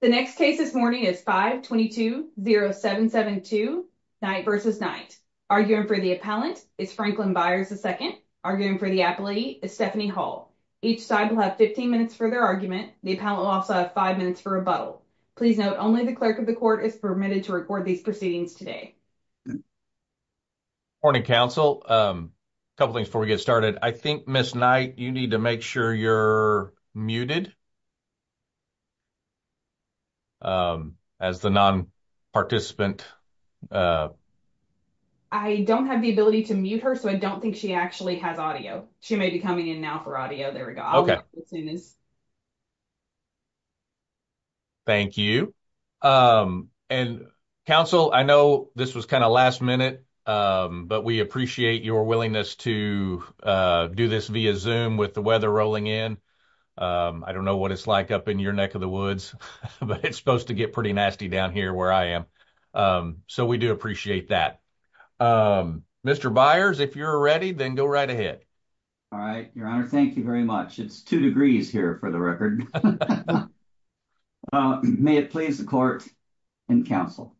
The next case this morning is 522-0772, Knight v. Knight. Arguing for the appellant is Franklin Byers II. Arguing for the appealee is Stephanie Hall. Each side will have 15 minutes for their argument. The appellant will also have 5 minutes for rebuttal. Please note, only the clerk of the court is permitted to record these proceedings today. Morning, counsel. Couple things before we get started. I think, Ms. Knight, you need to make sure you're muted as the non-participant. I don't have the ability to mute her, so I don't think she actually has audio. She may be coming in now for audio. There we go. Thank you. And, counsel, I know this was kind of last minute, but we appreciate your willingness to do this via Zoom with the weather rolling in. I don't know what it's like up in your neck of the woods, but it's supposed to get pretty nasty down here where I am, so we do appreciate that. Mr. Byers, if you're ready, then go right ahead. All right, Your Honor, thank you very much. It's two degrees here, for the record. May it please the court and counsel.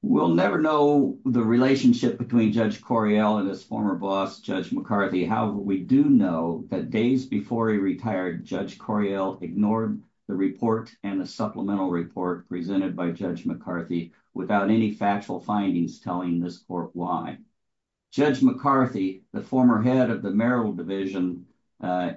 We'll never know the relationship between Judge Correale and his former boss, Judge McCarthy. However, we do know that days before he retired, Judge Correale ignored the report and the supplemental report presented by Judge McCarthy without any factual findings telling this court why. Judge McCarthy, the former head of the Merrill Division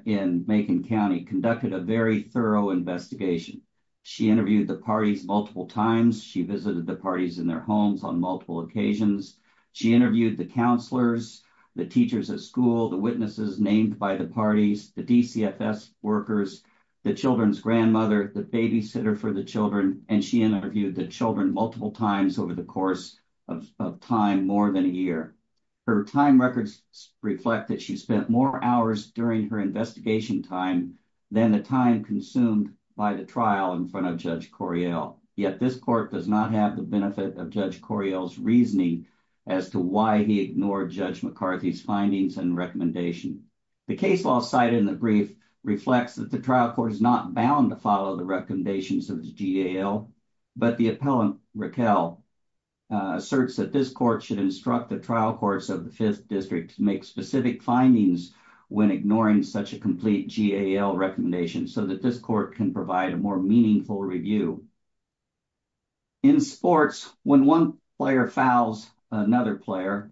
in Macon County, conducted a very thorough investigation. She interviewed the parties multiple times. She visited the parties in their homes on multiple occasions. She interviewed the counselors, the teachers at school, the witnesses named by the parties, the DCFS workers, the children's grandmother, the babysitter for the children, and she interviewed the children multiple times over the course of time, more than a year. Her time records reflect that she spent more hours during her investigation time than the time consumed by the trial in front of Judge Correale. Yet this court does not have the benefit of Judge Correale's reasoning as to why he ignored Judge McCarthy's findings and recommendation. The case law cited in the brief reflects that the trial court is not bound to follow the recommendations of the GAL, but the appellant, Raquel, asserts that this court should instruct the trial courts of the Fifth District to make specific findings when ignoring such a complete GAL recommendation so that this court can provide a more meaningful review. In sports, when one player fouls another player,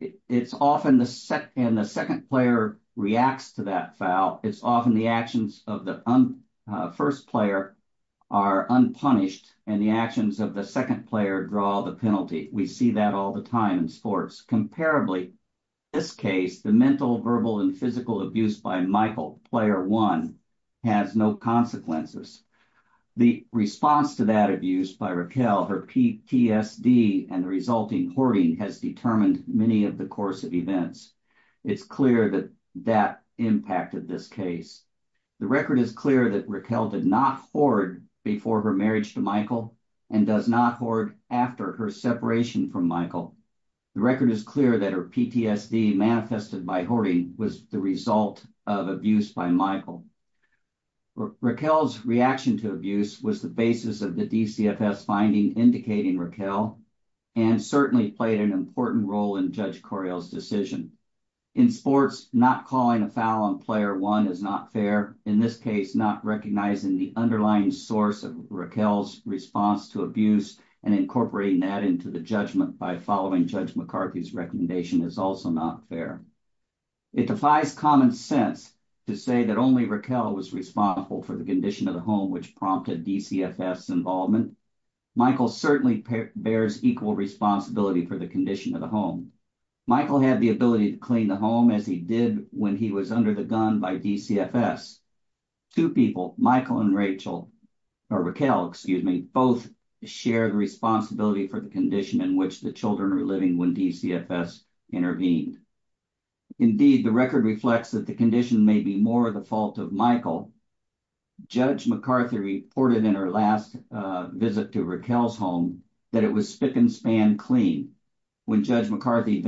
and the second player reacts to that foul, it's often the actions of the first player are unpunished, and the actions of the second player draw the penalty. We see that all the time in sports. Comparably, in this case, the mental, verbal, and physical abuse by Michael, player one, has no consequences. The response to that abuse by Raquel, her PTSD, and the resulting hoarding has determined many of the course of events. It's clear that that impacted this case. The record is clear that Raquel did not hoard before her marriage to Michael and does not hoard after her separation from Michael. The record is clear that her PTSD manifested by hoarding was the result of abuse by Michael. Raquel's reaction to abuse was the basis of the DCFS finding indicating Raquel and certainly played an important role in Judge Correale's decision. In sports, not calling a foul on player one is not fair, in this case, not recognizing the underlying source of Raquel's response to abuse and incorporating that into the judgment by following Judge McCarthy's recommendation is also not fair. It defies common sense to say that only Raquel was responsible for the condition of the home which prompted DCFS involvement. Michael certainly bears equal responsibility for the condition of the home. Michael had the ability to clean the home as he did when he was under the gun by DCFS. Two people, Michael and Raquel, both shared responsibility for the condition in which the children were living when DCFS intervened. Indeed, the record reflects that the condition may be more the fault of Michael. Judge McCarthy reported in her last visit to Raquel's home that it was spick and span clean. When Judge McCarthy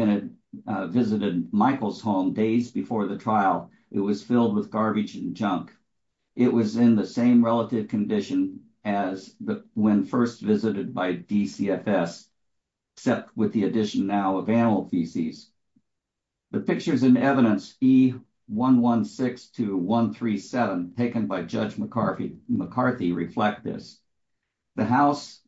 visited Michael's home days before the trial, it was filled with garbage and junk. It was in the same relative condition as when first visited by DCFS, except with the addition now of animal feces. The pictures and evidence E116-137 taken by Judge McCarthy reflect this. The house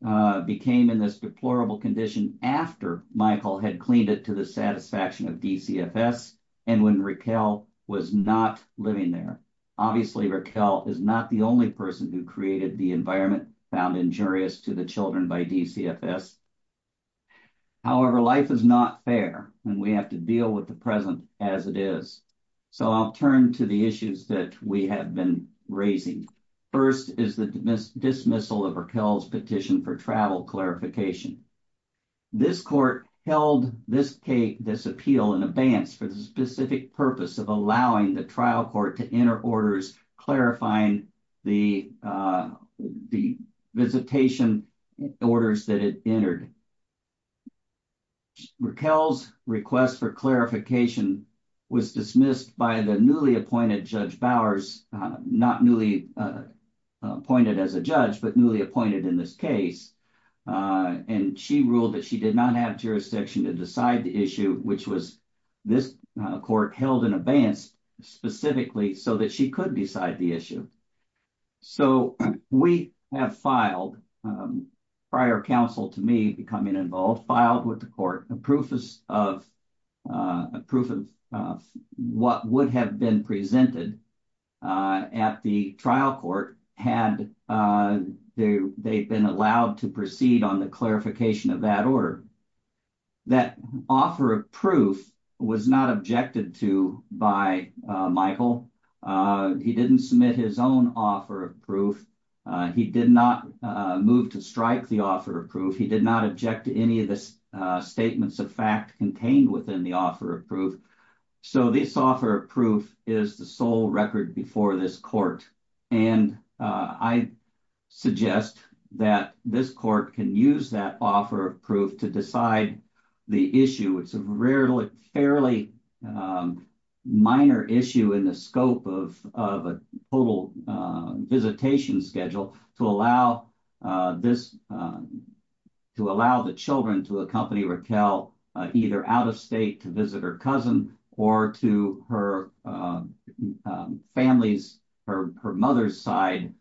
became in this deplorable condition after Michael had cleaned it to the satisfaction of DCFS and when Raquel was not living there. Obviously, Raquel is not the only person who created the environment found injurious to the children by DCFS. However, life is not fair, and we have to deal with the present as it is. So I'll turn to the issues that we have been raising. First is the dismissal of Raquel's petition for travel clarification. This court held this appeal in advance for the specific purpose of allowing the trial court to enter orders clarifying the visitation orders that it entered. Raquel's request for clarification was dismissed by the newly appointed Judge Bowers, not newly appointed as a judge, but newly appointed in this case. And she ruled that she did not have jurisdiction to decide the issue, which was this court held in advance specifically so that she could decide the issue. So we have filed prior counsel to me becoming involved, filed with the court, a proof of what would have been presented at the trial court had they been allowed to proceed on the clarification of that order. That offer of proof was not objected to by Michael. He didn't submit his own offer of proof. He did not move to strike the offer of proof. He did not object to any of the statements of fact contained within the offer of proof. So this offer of proof is the sole record before this court. And I suggest that this court can use that offer of proof to decide the issue. It's a fairly minor issue in the scope of a total visitation schedule to allow this, to allow the children to accompany Raquel either out of state to visit her cousin or to her family's or her mother's side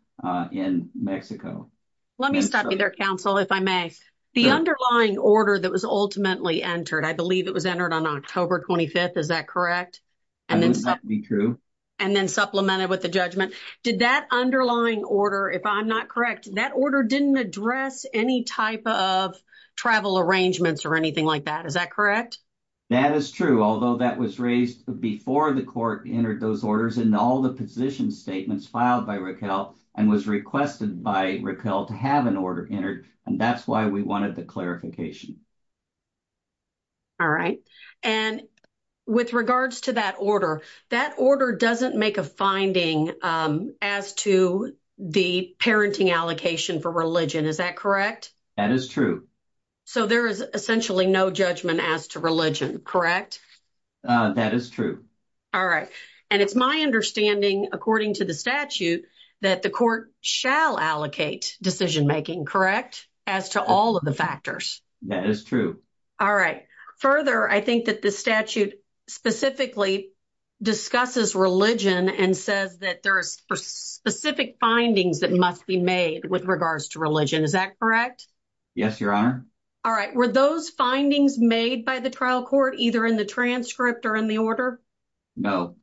in Mexico. Let me stop you there, counsel, if I may. The underlying order that was ultimately entered, I believe it was entered on October 25th. Is that correct? And it's not true. And then supplemented with the judgment. Did that underlying order, if I'm not correct, that order didn't address any type of travel arrangements or anything like that. Is that correct? That is true, although that was raised before the court entered those orders and all the position statements filed by Raquel and was requested by Raquel to have an order entered. And that's why we wanted the clarification. All right. And with regards to that order, that order doesn't make a finding as to the parenting allocation for religion. Is that correct? That is true. So there is essentially no judgment as to religion, correct? That is true. All right. And it's my understanding, according to the statute, that the court shall allocate decision making, correct? As to all of the factors. That is true. All right. Further, I think that the statute specifically discusses religion and says that there are specific findings that must be made with regards to religion. Is that correct? Yes, Your Honor. All right. Were those findings made by the trial court, either in the transcript or in the order? No.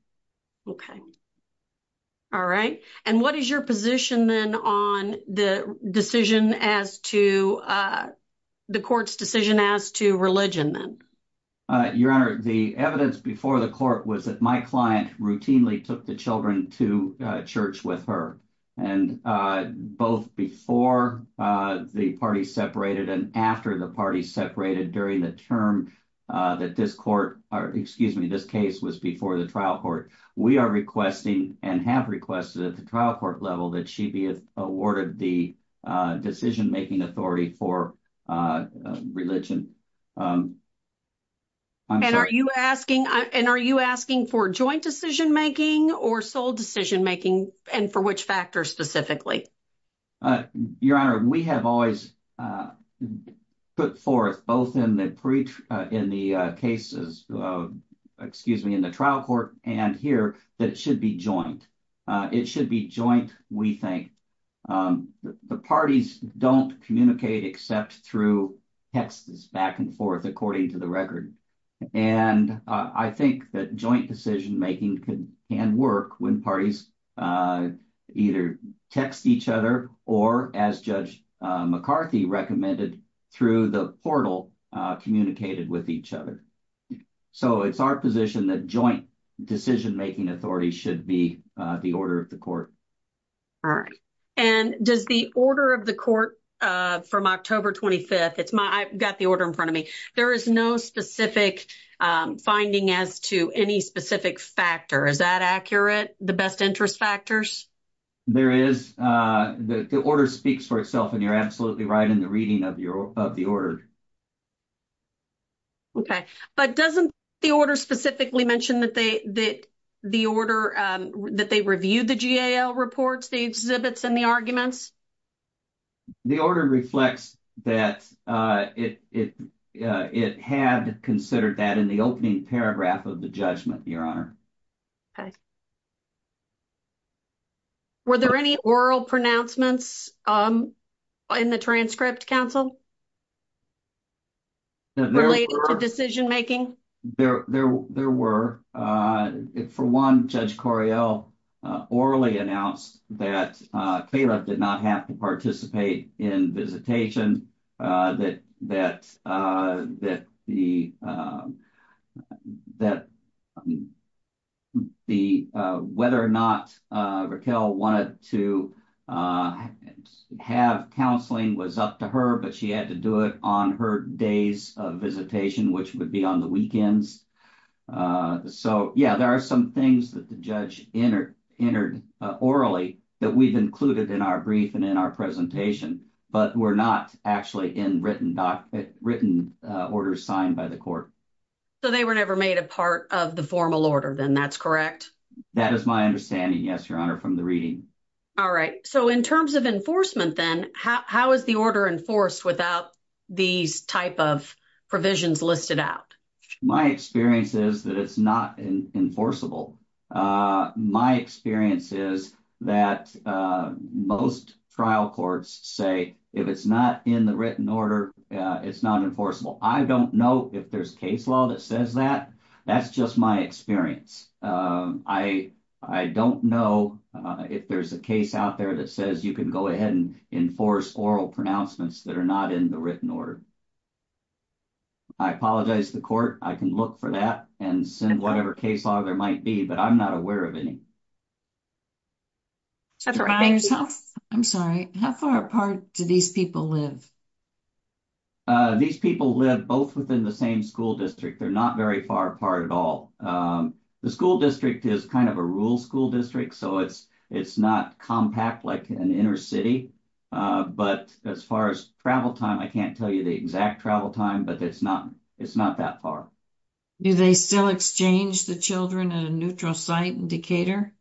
All right. And what is your position then on the decision as to the court's decision as to religion then? Your Honor, the evidence before the court was that my client routinely took the children to church with her. And both before the party separated and after the party separated during the term that this court or excuse me, this case was before the trial court. We are requesting and have requested at the trial court level that she be awarded the decision making authority for religion. And are you asking and are you asking for joint decision making or sole decision making? And for which factor specifically? Your Honor, we have always put forth both in the preach in the cases of excuse me, in the trial court and here that it should be joint. It should be joint. We think the parties don't communicate, except through texts back and forth, according to the record. And I think that joint decision making can work when parties either text each other or, as Judge McCarthy recommended, through the portal communicated with each other. So it's our position that joint decision making authority should be the order of the court. All right. And does the order of the court from October 25th? It's my I've got the order in front of me. There is no specific finding as to any specific factor. Is that accurate? The best interest factors? There is the order speaks for itself, and you're absolutely right in the reading of the order. Okay, but doesn't the order specifically mentioned that they that the order that they reviewed the reports, the exhibits and the arguments. The order reflects that it it it had considered that in the opening paragraph of the judgment. Your Honor. Were there any oral pronouncements in the transcript council? Related to decision making? There were. For one, Judge Correale orally announced that Caleb did not have to participate in visitation. That that that the that the whether or not Raquel wanted to have counseling was up to her, but she had to do it on her days of visitation, which would be on the weekends. So, yeah, there are some things that the judge entered entered orally that we've included in our brief and in our presentation, but we're not actually in written written order signed by the court. So, they were never made a part of the formal order, then that's correct. That is my understanding. Yes, Your Honor from the reading. All right. So, in terms of enforcement, then how is the order enforced without these type of provisions listed out? My experience is that it's not enforceable. My experience is that most trial courts say if it's not in the written order, it's not enforceable. I don't know if there's case law that says that. That's just my experience. I, I don't know if there's a case out there that says you can go ahead and enforce oral pronouncements that are not in the written order. I apologize to the court. I can look for that and send whatever case law there might be, but I'm not aware of any. I'm sorry. How far apart do these people live? These people live both within the same school district. They're not very far apart at all. The school district is kind of a rural school district. So, it's, it's not compact like an inner city. But as far as travel time, I can't tell you the exact travel time, but it's not, it's not that far. Do they still exchange the children at a neutral site in Decatur?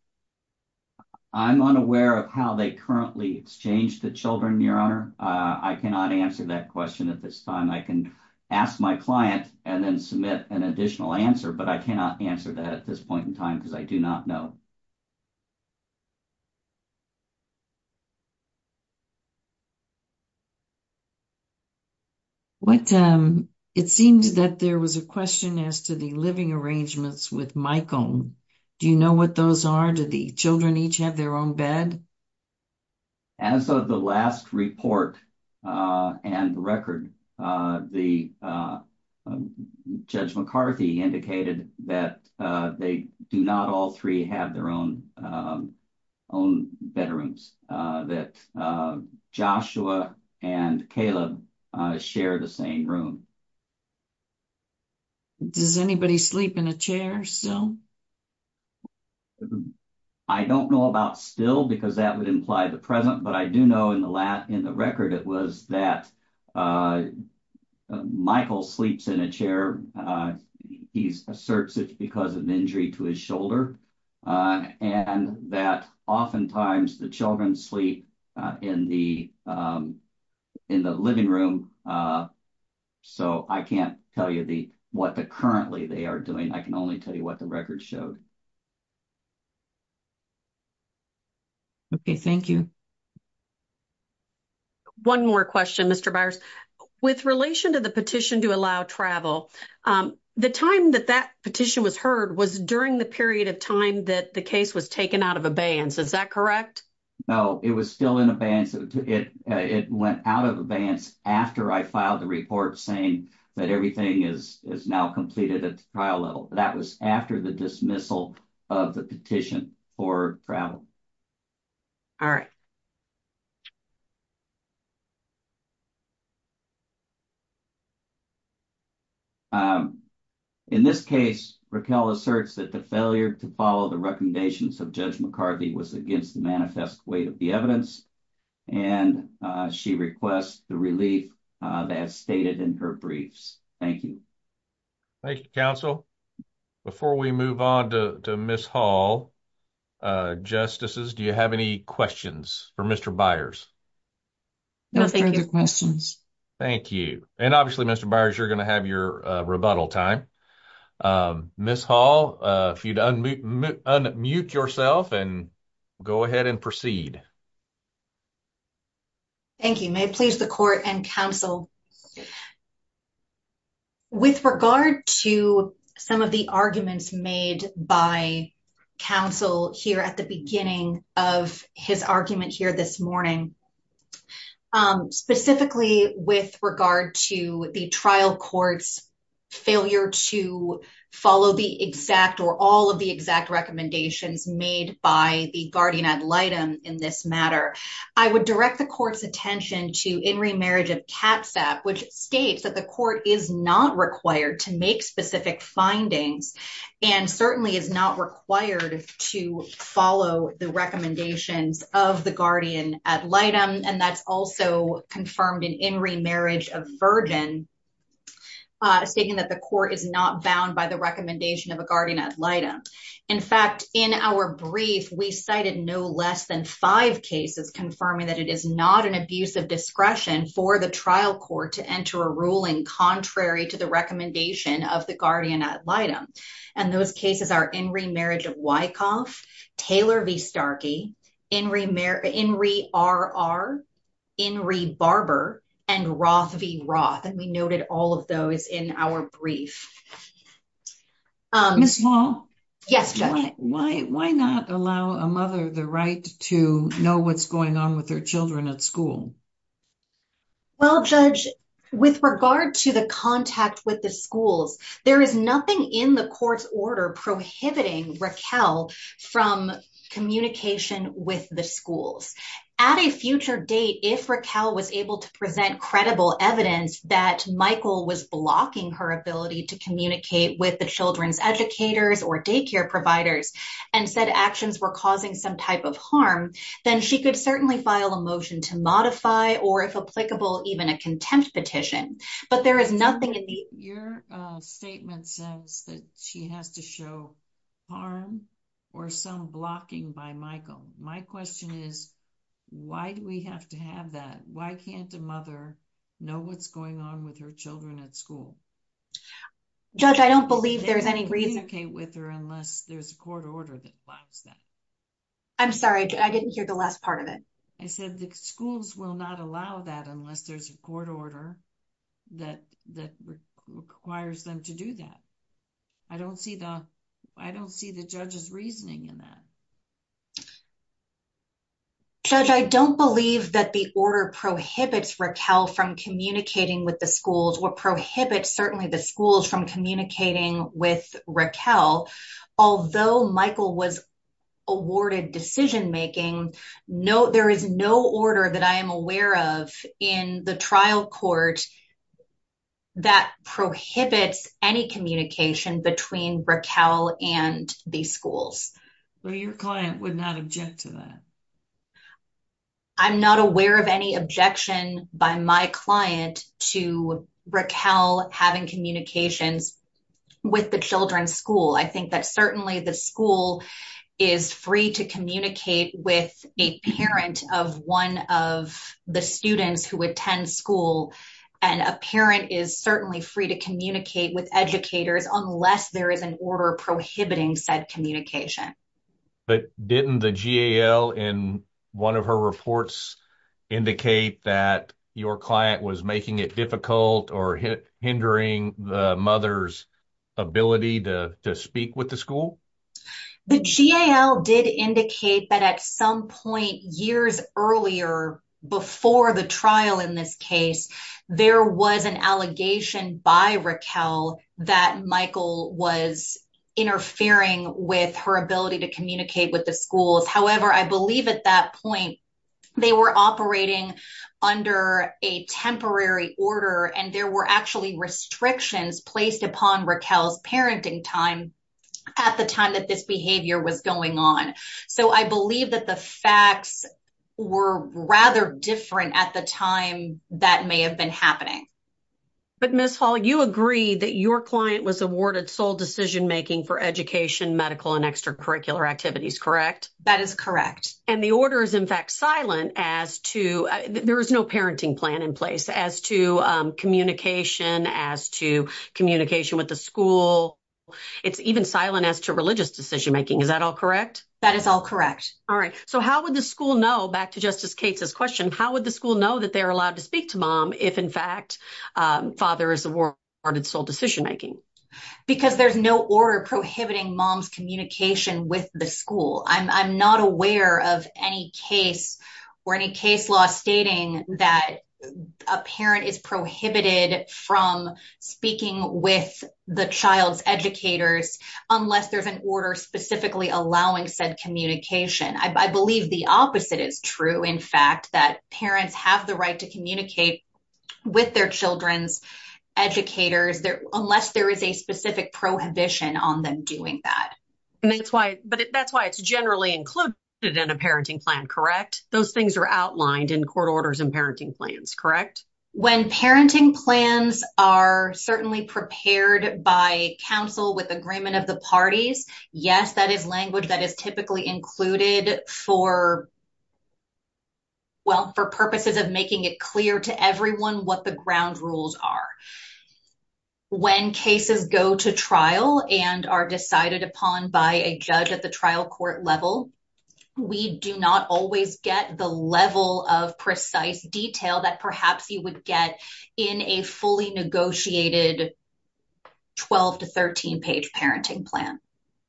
I'm unaware of how they currently exchange the children, Your Honor. I cannot answer that question at this time. I can ask my client and then submit an additional answer, but I cannot answer that at this point in time because I do not know. It seems that there was a question as to the living arrangements with Michael. Do you know what those are? Do the children each have their own bed? As of the last report and record, Judge McCarthy indicated that they do not all three have their own bedrooms, that Joshua and Caleb share the same room. Does anybody sleep in a chair still? I don't know about still because that would imply the present, but I do know in the record it was that Michael sleeps in a chair. He asserts it because of injury to his shoulder and that oftentimes the children sleep in the living room. So, I can't tell you what currently they are doing. I can only tell you what the record showed. Okay, thank you. One more question, Mr. Byers. With relation to the petition to allow travel, the time that that petition was heard was during the period of time that the case was taken out of abeyance. Is that correct? No, it was still in abeyance. It went out of abeyance after I filed the report saying that everything is now completed at the trial level. That was after the dismissal of the petition for travel. All right. In this case, Raquel asserts that the failure to follow the recommendations of Judge McCarthy was against the manifest weight of the evidence and she requests the relief that is stated in her briefs. Thank you. Thank you, Counsel. Before we move on to Ms. Hall, Justices, do you have any questions for Mr. Byers? No further questions. Thank you. And obviously, Mr. Byers, you're going to have your rebuttal time. Ms. Hall, if you'd unmute yourself and go ahead and proceed. Thank you. May it please the Court and Counsel. With regard to some of the arguments made by Counsel here at the beginning of his argument here this morning, specifically with regard to the trial court's failure to follow the exact or all of the exact recommendations made by the guardian ad litem in this matter, I would direct the court's attention to In Re Marriage of Katzap, which states that the court is not required to make specific findings and certainly is not required to follow the recommendations of the guardian ad litem. And that's also confirmed in In Re Marriage of Virgin, stating that the court is not bound by the recommendation of a guardian ad litem. In fact, in our brief, we cited no less than five cases confirming that it is not an abuse of discretion for the trial court to enter a ruling contrary to the recommendation of the guardian ad litem. And those cases are In Re Marriage of Wyckoff, Taylor v. Starkey, In Re R.R., In Re Barber, and Roth v. Roth. And we noted all of those in our brief. Ms. Wall? Yes, Judge. Why not allow a mother the right to know what's going on with their children at school? Well, Judge, with regard to the contact with the schools, there is nothing in the court's order prohibiting Raquel from communication with the schools. At a future date, if Raquel was able to present credible evidence that Michael was blocking her ability to communicate with the children's educators or daycare providers and said actions were causing some type of harm, then she could certainly file a motion to modify or, if applicable, even a contempt petition. But there is nothing in the… Your statement says that she has to show harm or some blocking by Michael. My question is, why do we have to have that? Why can't a mother know what's going on with her children at school? Judge, I don't believe there's any reason… …to communicate with her unless there's a court order that blocks that. I'm sorry, I didn't hear the last part of it. I said the schools will not allow that unless there's a court order that requires them to do that. I don't see the judge's reasoning in that. Judge, I don't believe that the order prohibits Raquel from communicating with the schools or prohibits, certainly, the schools from communicating with Raquel. Although Michael was awarded decision-making, there is no order that I am aware of in the trial court that prohibits any communication between Raquel and these schools. Well, your client would not object to that. I'm not aware of any objection by my client to Raquel having communications with the children's school. I think that certainly the school is free to communicate with a parent of one of the students who attend school. And a parent is certainly free to communicate with educators unless there is an order prohibiting said communication. But didn't the GAL in one of her reports indicate that your client was making it difficult or hindering the mother's ability to speak with the school? The GAL did indicate that at some point years earlier, before the trial in this case, there was an allegation by Raquel that Michael was interfering with her ability to communicate with the schools. However, I believe at that point they were operating under a temporary order and there were actually restrictions placed upon Raquel's parenting time at the time that this behavior was going on. So I believe that the facts were rather different at the time that may have been happening. But Ms. Hall, you agree that your client was awarded sole decision-making for education, medical, and extracurricular activities, correct? That is correct. And the order is in fact silent as to, there is no parenting plan in place as to communication, as to communication with the school. It's even silent as to religious decision-making. Is that all correct? That is all correct. All right. So how would the school know, back to Justice Cates' question, how would the school know that they're allowed to speak to mom if in fact father is awarded sole decision-making? Because there's no order prohibiting mom's communication with the school. I'm not aware of any case or any case law stating that a parent is prohibited from speaking with the child's educators unless there's an order specifically allowing said communication. I believe the opposite is true, in fact, that parents have the right to communicate with their children's educators unless there is a specific prohibition on them doing that. And that's why, but that's why it's generally included in a parenting plan, correct? Those things are outlined in court orders and parenting plans, correct? When parenting plans are certainly prepared by counsel with agreement of the parties, yes, that is language that is typically included for, well, for purposes of making it clear to everyone what the ground rules are. When cases go to trial and are decided upon by a judge at the trial court level, we do not always get the level of precise detail that perhaps you would get in a fully negotiated 12 to 13 page parenting plan.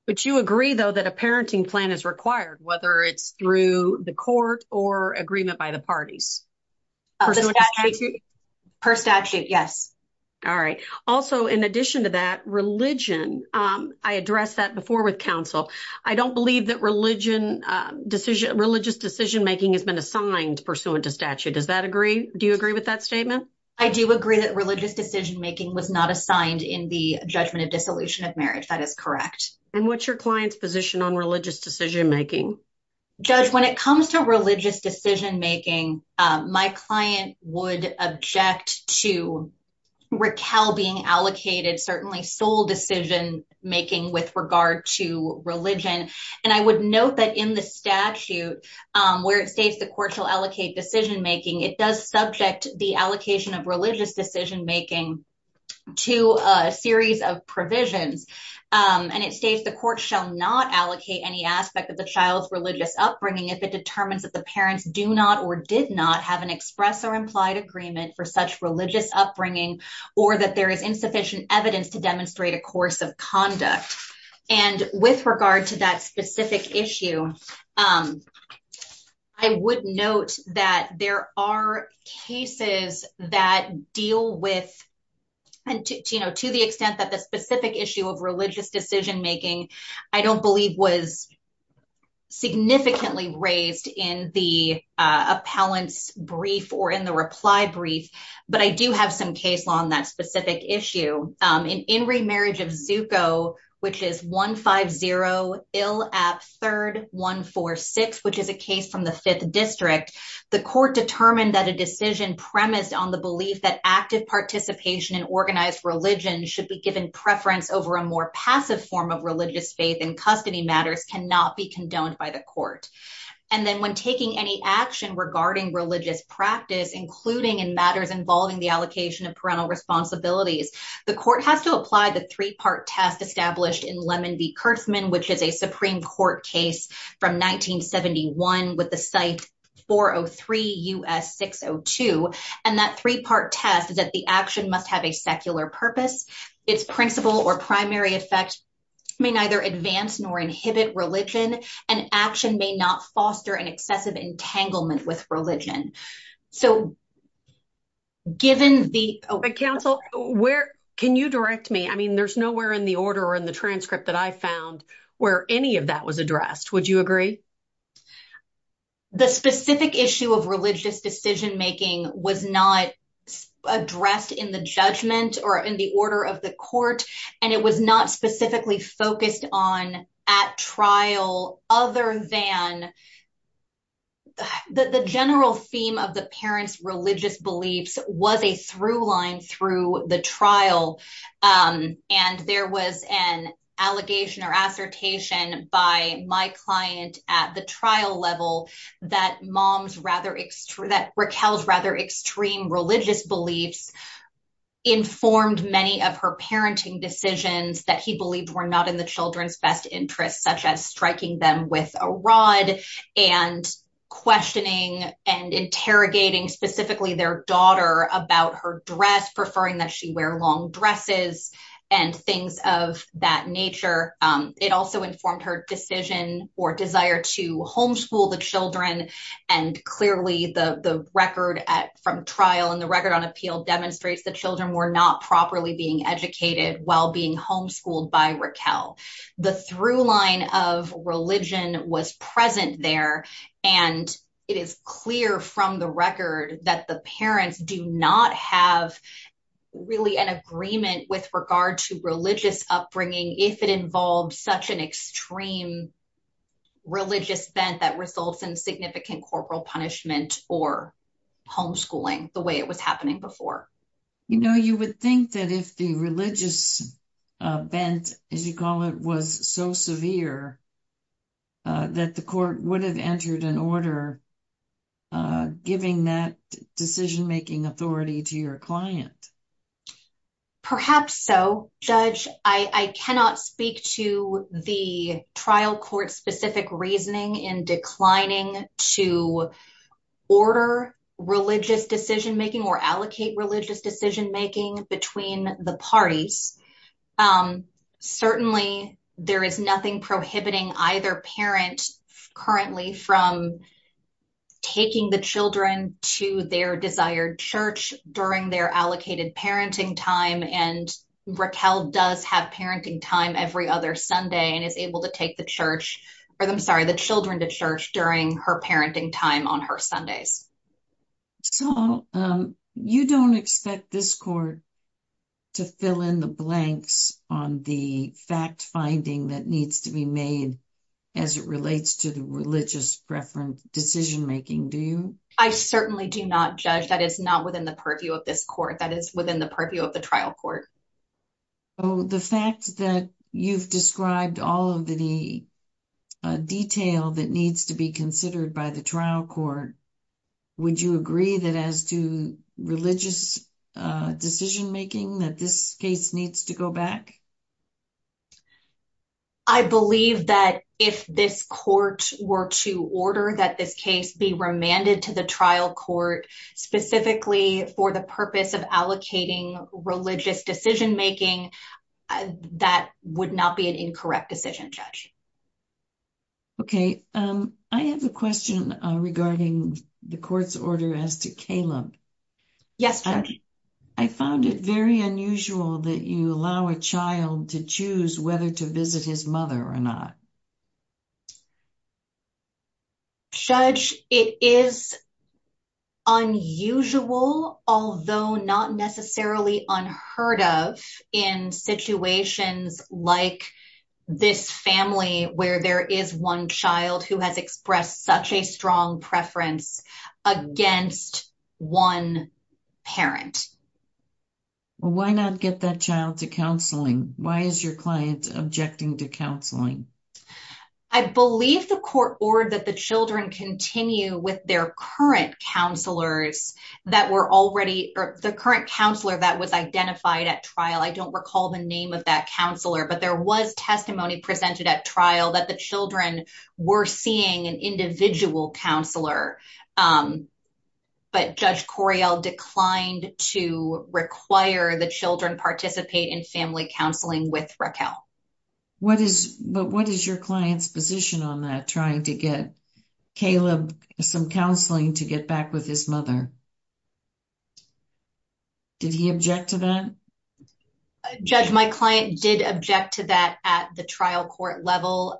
But you agree, though, that a parenting plan is required, whether it's through the court or agreement by the parties? Per statute, yes. All right. Also, in addition to that religion, I addressed that before with counsel. I don't believe that religion decision, religious decision making has been assigned pursuant to statute. Does that agree? Do you agree with that statement? I do agree that religious decision making was not assigned in the judgment of dissolution of marriage. That is correct. And what's your client's position on religious decision making? Judge, when it comes to religious decision making, my client would object to Raquel being allocated certainly sole decision making with regard to religion. And I would note that in the statute where it states the court shall allocate decision making, it does subject the allocation of religious decision making to a series of provisions. And it states the court shall not allocate any aspect of the child's religious upbringing if it determines that the parents do not or did not have an express or implied agreement for such religious upbringing or that there is insufficient evidence to demonstrate a course of conduct. And with regard to that specific issue, I would note that there are cases that deal with and to the extent that the specific issue of religious decision making, I don't believe was significantly raised in the appellant's brief or in the reply brief. But I do have some case law on that specific issue. In In Re Marriage of Zuko, which is 150 Ill App 3rd 146, which is a case from the Fifth District, the court determined that a decision premised on the belief that active participation in organized religion should be given preference over a more passive form of religious faith in custody matters cannot be condoned by the court. And then when taking any action regarding religious practice, including in matters involving the allocation of parental responsibilities, the court has to apply the three part test established in Lemon v. Kersman, which is a Supreme Court case from 1971 with the site 403 U.S. 602. And that three part test is that the action must have a secular purpose. Its principle or primary effect may neither advance nor inhibit religion and action may not foster an excessive entanglement with religion. So. Given the Council, where can you direct me? I mean, there's nowhere in the order in the transcript that I found where any of that was addressed. Would you agree? The specific issue of religious decision making was not addressed in the judgment or in the order of the court, and it was not specifically focused on at trial other than. The general theme of the parents' religious beliefs was a through line through the trial, and there was an allegation or assertation by my client at the trial level that mom's rather extreme, that Raquel's rather extreme religious beliefs informed many of her parenting decisions that he believed were not in the children's best interest, such as striking them with a rock. And questioning and interrogating specifically their daughter about her dress, preferring that she wear long dresses and things of that nature. It also informed her decision or desire to homeschool the children. And clearly, the record from trial and the record on appeal demonstrates that children were not properly being educated while being homeschooled by Raquel. The through line of religion was present there, and it is clear from the record that the parents do not have really an agreement with regard to religious upbringing if it involves such an extreme religious bent that results in significant corporal punishment or homeschooling the way it was happening before. You know, you would think that if the religious bent, as you call it, was so severe that the court would have entered an order giving that decision making authority to your client. Perhaps so, Judge. I cannot speak to the trial court specific reasoning in declining to order religious decision making or allocate religious decision making between the parties. Certainly, there is nothing prohibiting either parent currently from taking the children to their desired church during their allocated parenting time and Raquel does have parenting time every other Sunday and is able to take the church, or I'm sorry, the children to church during her parenting time on her Sundays. So you don't expect this court to fill in the blanks on the fact finding that needs to be made as it relates to the religious preference decision making. Do you? I certainly do not judge that is not within the purview of this court that is within the purview of the trial court. The fact that you've described all of the detail that needs to be considered by the trial court, would you agree that as to religious decision making that this case needs to go back? I believe that if this court were to order that this case be remanded to the trial court, specifically for the purpose of allocating religious decision making, that would not be an incorrect decision, Judge. Okay, I have a question regarding the court's order as to Caleb. Yes, Judge. I found it very unusual that you allow a child to choose whether to visit his mother or not. Judge, it is unusual, although not necessarily unheard of in situations like this family where there is one child who has expressed such a strong preference against one parent. Why not get that child to counseling? Why is your client objecting to counseling? I believe the court ordered that the children continue with their current counselors that were already or the current counselor that was identified at trial. I don't recall the name of that counselor, but there was testimony presented at trial that the children were seeing an individual counselor. But Judge Coryell declined to require the children participate in family counseling with Raquel. What is your client's position on that, trying to get Caleb some counseling to get back with his mother? Did he object to that? Judge, my client did object to that at the trial court level.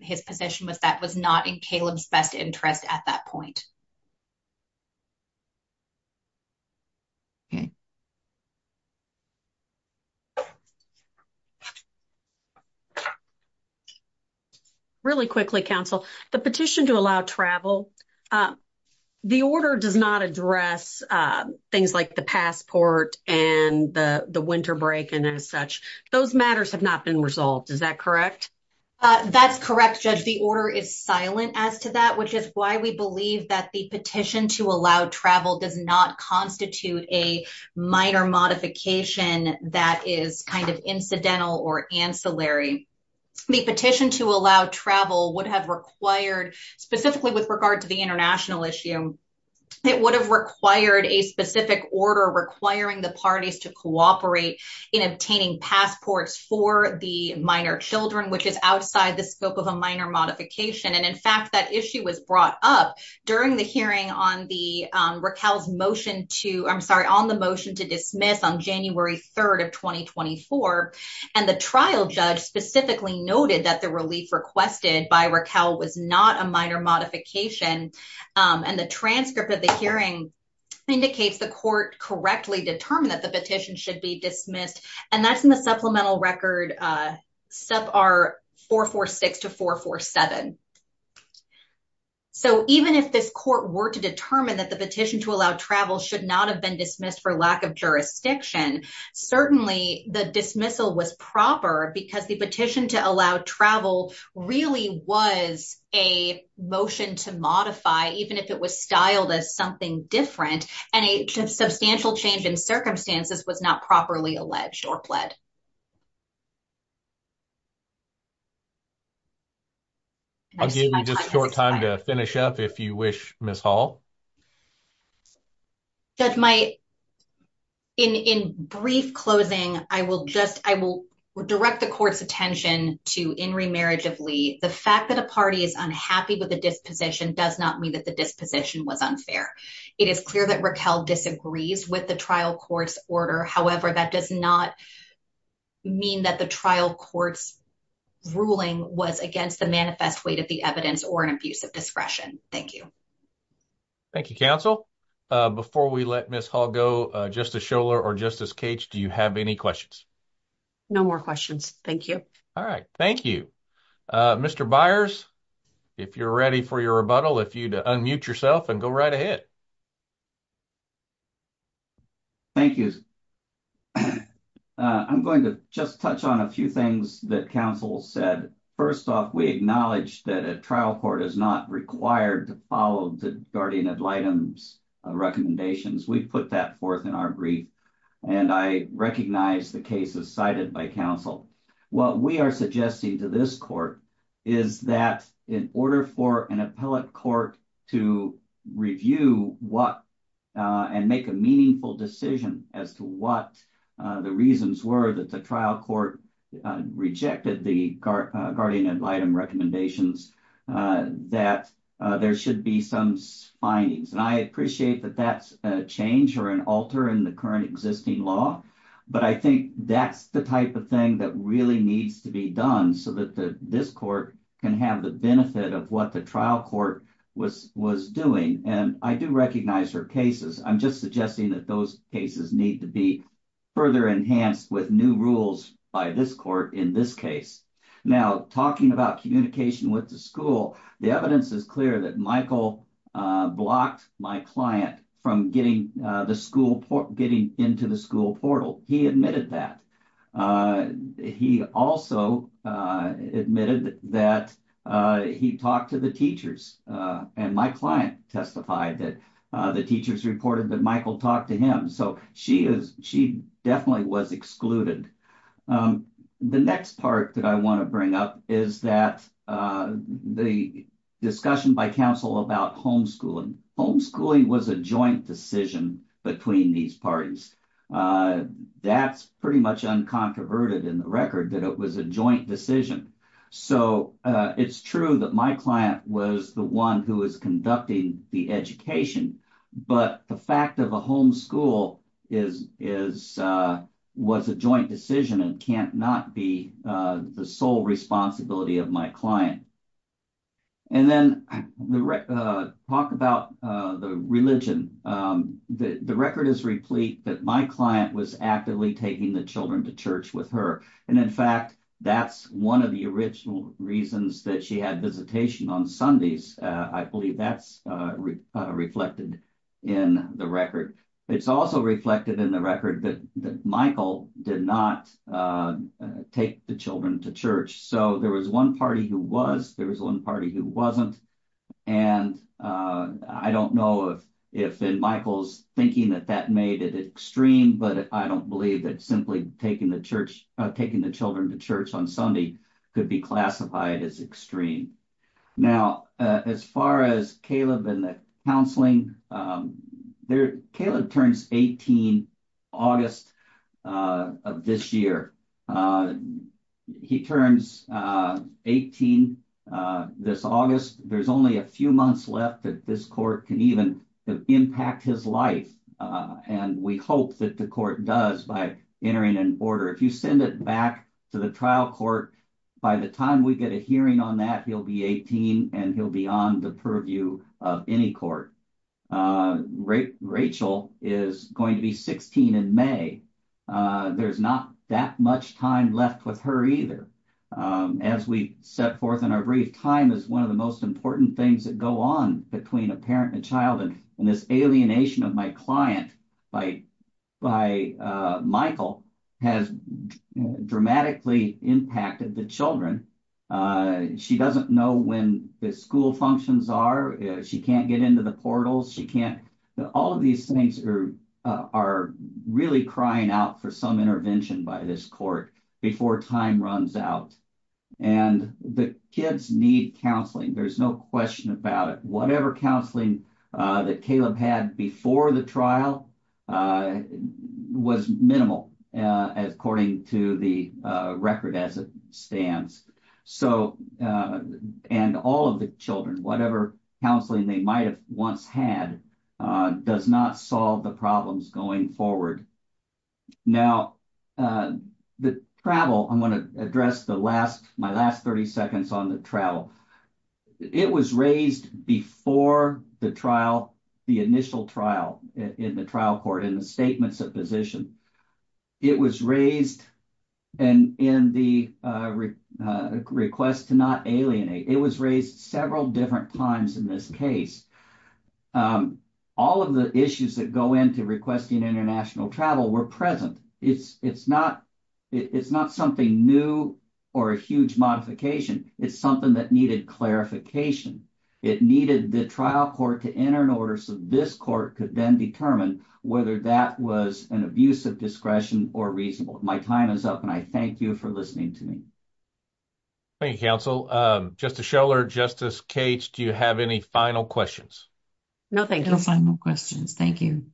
His position was that was not in Caleb's best interest at that point. Okay. Really quickly, Counsel, the petition to allow travel, the order does not address things like the passport and the winter break and as such. Those matters have not been resolved. Is that correct? That's correct, Judge. The order is silent as to that, which is why we believe that the petition to allow travel does not constitute a minor modification that is kind of incidental or ancillary. The petition to allow travel would have required, specifically with regard to the international issue, it would have required a specific order requiring the parties to cooperate in obtaining passports for the minor children, which is outside the scope of a minor modification. And in fact, that issue was brought up during the hearing on the Raquel's motion to, I'm sorry, on the motion to dismiss on January 3rd of 2024. And the trial judge specifically noted that the relief requested by Raquel was not a minor modification. And the transcript of the hearing indicates the court correctly determined that the petition should be dismissed. And that's in the supplemental record, sub R446 to 447. So even if this court were to determine that the petition to allow travel should not have been dismissed for lack of jurisdiction, certainly the dismissal was proper because the petition to allow travel really was a motion to modify, even if it was styled as something different and a substantial change in circumstances was not properly alleged or pled. I'll give you just a short time to finish up if you wish, Ms. Hall. Judge, in brief closing, I will direct the court's attention to in remarriage of Lee. The fact that a party is unhappy with the disposition does not mean that the disposition was unfair. It is clear that Raquel disagrees with the trial court's order. However, that does not mean that the trial court's ruling was against the manifest weight of the evidence or an abuse of discretion. Thank you. Thank you, counsel. Before we let Ms. Hall go, Justice Scholar or Justice Cage, do you have any questions? No more questions. Thank you. All right. Thank you. Mr. Byers, if you're ready for your rebuttal, if you'd unmute yourself and go right ahead. Thank you. I'm going to just touch on a few things that counsel said. First off, we acknowledge that a trial court is not required to follow the guardian ad litem's recommendations. We've put that forth in our brief, and I recognize the cases cited by counsel. What we are suggesting to this court is that in order for an appellate court to review what and make a meaningful decision as to what the reasons were that the trial court rejected the guardian ad litem recommendations, that there should be some findings. And I appreciate that that's a change or an alter in the current existing law, but I think that's the type of thing that really needs to be done so that this court can have the benefit of what the trial court was doing. And I do recognize her cases. I'm just suggesting that those cases need to be further enhanced with new rules by this court in this case. Now, talking about communication with the school, the evidence is clear that Michael blocked my client from getting into the school portal. He admitted that. He also admitted that he talked to the teachers, and my client testified that the teachers reported that Michael talked to him. So she definitely was excluded. The next part that I want to bring up is that the discussion by counsel about homeschooling. Homeschooling was a joint decision between these parties. That's pretty much uncontroverted in the record that it was a joint decision. So it's true that my client was the one who is conducting the education, but the fact of a homeschool was a joint decision and can't not be the sole responsibility of my client. And then talk about the religion. The record is replete that my client was actively taking the children to church with her. And in fact, that's one of the original reasons that she had visitation on Sundays. I believe that's reflected in the record. It's also reflected in the record that Michael did not take the children to church. So there was one party who was, there was one party who wasn't, and I don't know if in Michael's thinking that that made it extreme, but I don't believe that simply taking the children to church on Sunday could be classified as extreme. Now, as far as Caleb and the counseling, Caleb turns 18 August of this year. He turns 18 this August. There's only a few months left that this court can even impact his life. And we hope that the court does by entering in order if you send it back to the trial court. By the time we get a hearing on that he'll be 18 and he'll be on the purview of any court. Rachel is going to be 16 in May. There's not that much time left with her either. As we set forth in our brief time is one of the most important things that go on between a parent and child and this alienation of my client by by Michael has dramatically impacted the children. She doesn't know when the school functions are, she can't get into the portals, she can't. All of these things are are really crying out for some intervention by this court before time runs out. And the kids need counseling. There's no question about it, whatever counseling that Caleb had before the trial was minimal as according to the record as it stands. So, and all of the children, whatever counseling they might have once had does not solve the problems going forward. Now, the travel, I'm going to address the last my last 30 seconds on the travel. It was raised before the trial, the initial trial in the trial court in the statements of position. It was raised. And in the request to not alienate it was raised several different times in this case. All of the issues that go into requesting international travel were present, it's, it's not, it's not something new, or a huge modification, it's something that needed clarification. It needed the trial court to enter in order so this court could then determine whether that was an abuse of discretion or reasonable my time is up and I thank you for listening to me. Thank you counsel just to show or justice cage. Do you have any final questions? No, thank you. No, final questions. Thank you.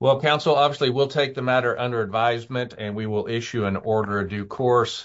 Well, counsel, obviously, we'll take the matter under advisement and we will issue an order due course.